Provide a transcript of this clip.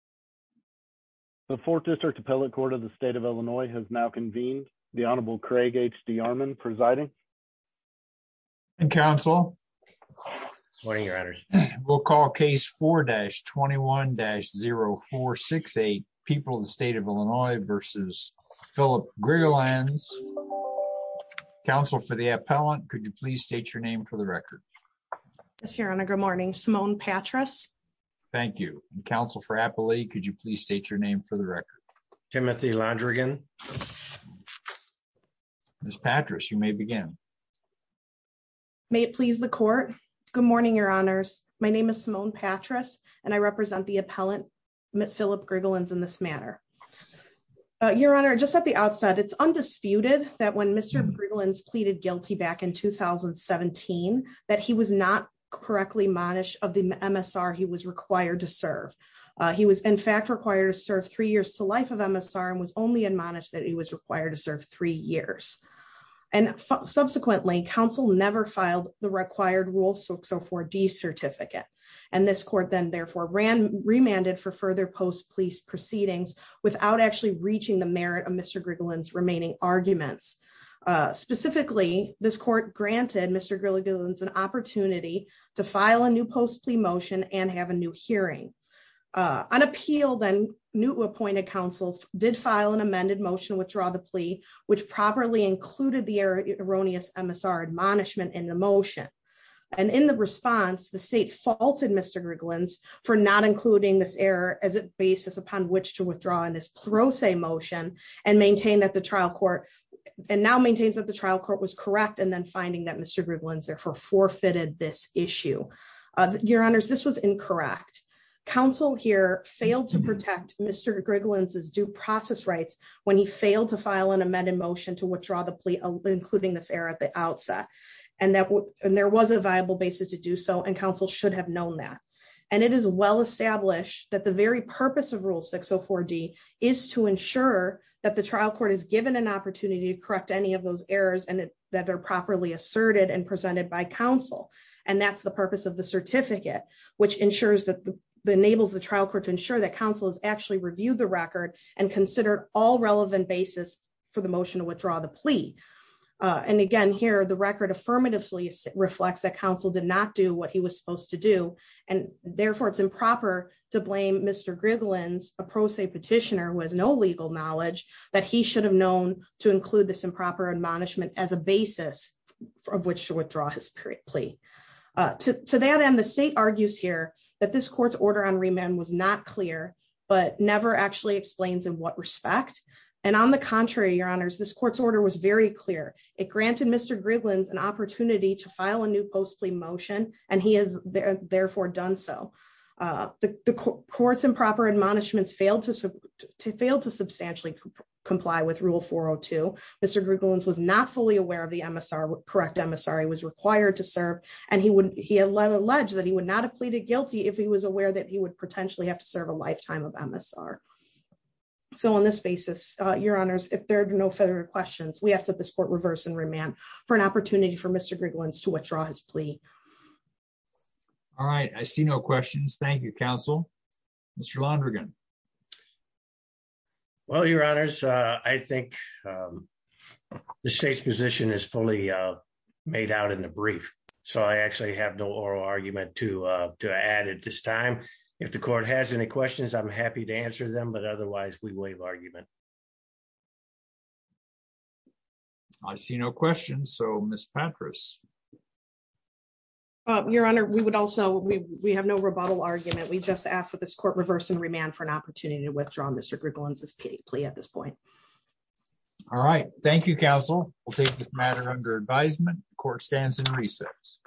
The Fourth District Appellate Court of the State of Illinois has now convened. The Honorable Craig H.D. Yarman presiding. Counsel. We'll call case 4-21-0468, People of the State of Illinois v. Phillip Grigalanz. Counsel for the appellant, could you please state your name for the record? Yes, Your Honor. Good morning. Simone Patras. Thank you. Counsel for Appellee, could you please state your name for the record? Timothy Londrigan. Ms. Patras, you may begin. May it please the Court. Good morning, Your Honors. My name is Simone Patras, and I represent the appellant, Phillip Grigalanz, in this matter. Your Honor, just at the outset, it's undisputed that when Mr. Grigalanz pleaded guilty back in 2017, that he was not correctly admonished of the MSR he was required to serve. He was in fact required to serve three years to life of MSR and was only admonished that he was required to serve three years. And subsequently, counsel never filed the required rule 604D certificate, and this court then therefore remanded for further post-plea proceedings without actually reaching the merit of Mr. Grigalanz's remaining arguments. Specifically, this court granted Mr. Grigalanz an opportunity to file a new post-plea motion and have a new hearing. On appeal, then, new appointed counsel did file an amended motion to withdraw the plea, which properly included the erroneous MSR admonishment in the motion. And in the response, the state faulted Mr. Grigalanz for not including this error as a basis upon which to withdraw in this pro se motion, and now maintains that the trial court was correct, and then finding that Mr. Grigalanz therefore forfeited this issue. Your Honors, this was incorrect. Counsel here failed to protect Mr. Grigalanz's due process rights when he failed to file an amended motion to withdraw the plea, including this error at the outset. And there was a viable basis to do so, and counsel should have known that. And it is well established that the very purpose of Rule 604D is to ensure that the trial court is given an opportunity to correct any of those errors and that they're properly asserted and presented by counsel. And that's the purpose of the certificate, which enables the trial court to ensure that counsel has actually reviewed the record and considered all relevant basis for the motion to withdraw the plea. And again, here, the record affirmatively reflects that counsel did not do what he was supposed to do, and therefore it's improper to blame Mr. Grigalanz, a pro se petitioner, with no legal knowledge that he should have known to include this improper admonishment as a basis of which to withdraw his plea. To that end, the state argues here that this court's order on remand was not clear, but never actually explains in what respect. And on the contrary, Your Honors, this court's order was very clear. It granted Mr. Grigalanz an opportunity to file a new post plea motion, and he has therefore done so. The court's improper admonishments failed to substantially comply with Rule 402. Mr. Grigalanz was not fully aware of the correct MSR he was required to serve, and he alleged that he would not have pleaded guilty if he was aware that he would potentially have to serve a lifetime of MSR. So on this basis, Your Honors, if there are no further questions, we ask that this court reverse and remand for an opportunity for Mr. Grigalanz to withdraw his plea. All right, I see no questions. Thank you, Counsel. Mr. Londrigan. Well, Your Honors, I think the state's position is fully made out in the brief, so I actually have no oral argument to add at this time. If the court has any questions, I'm happy to answer them, but otherwise we waive argument. I see no questions, so Ms. Patras. Your Honor, we have no rebuttal argument. We just ask that this court reverse and remand for an opportunity to withdraw Mr. Grigalanz's plea at this point. All right. Thank you, Counsel. We'll take this matter under advisement. The court stands in recess.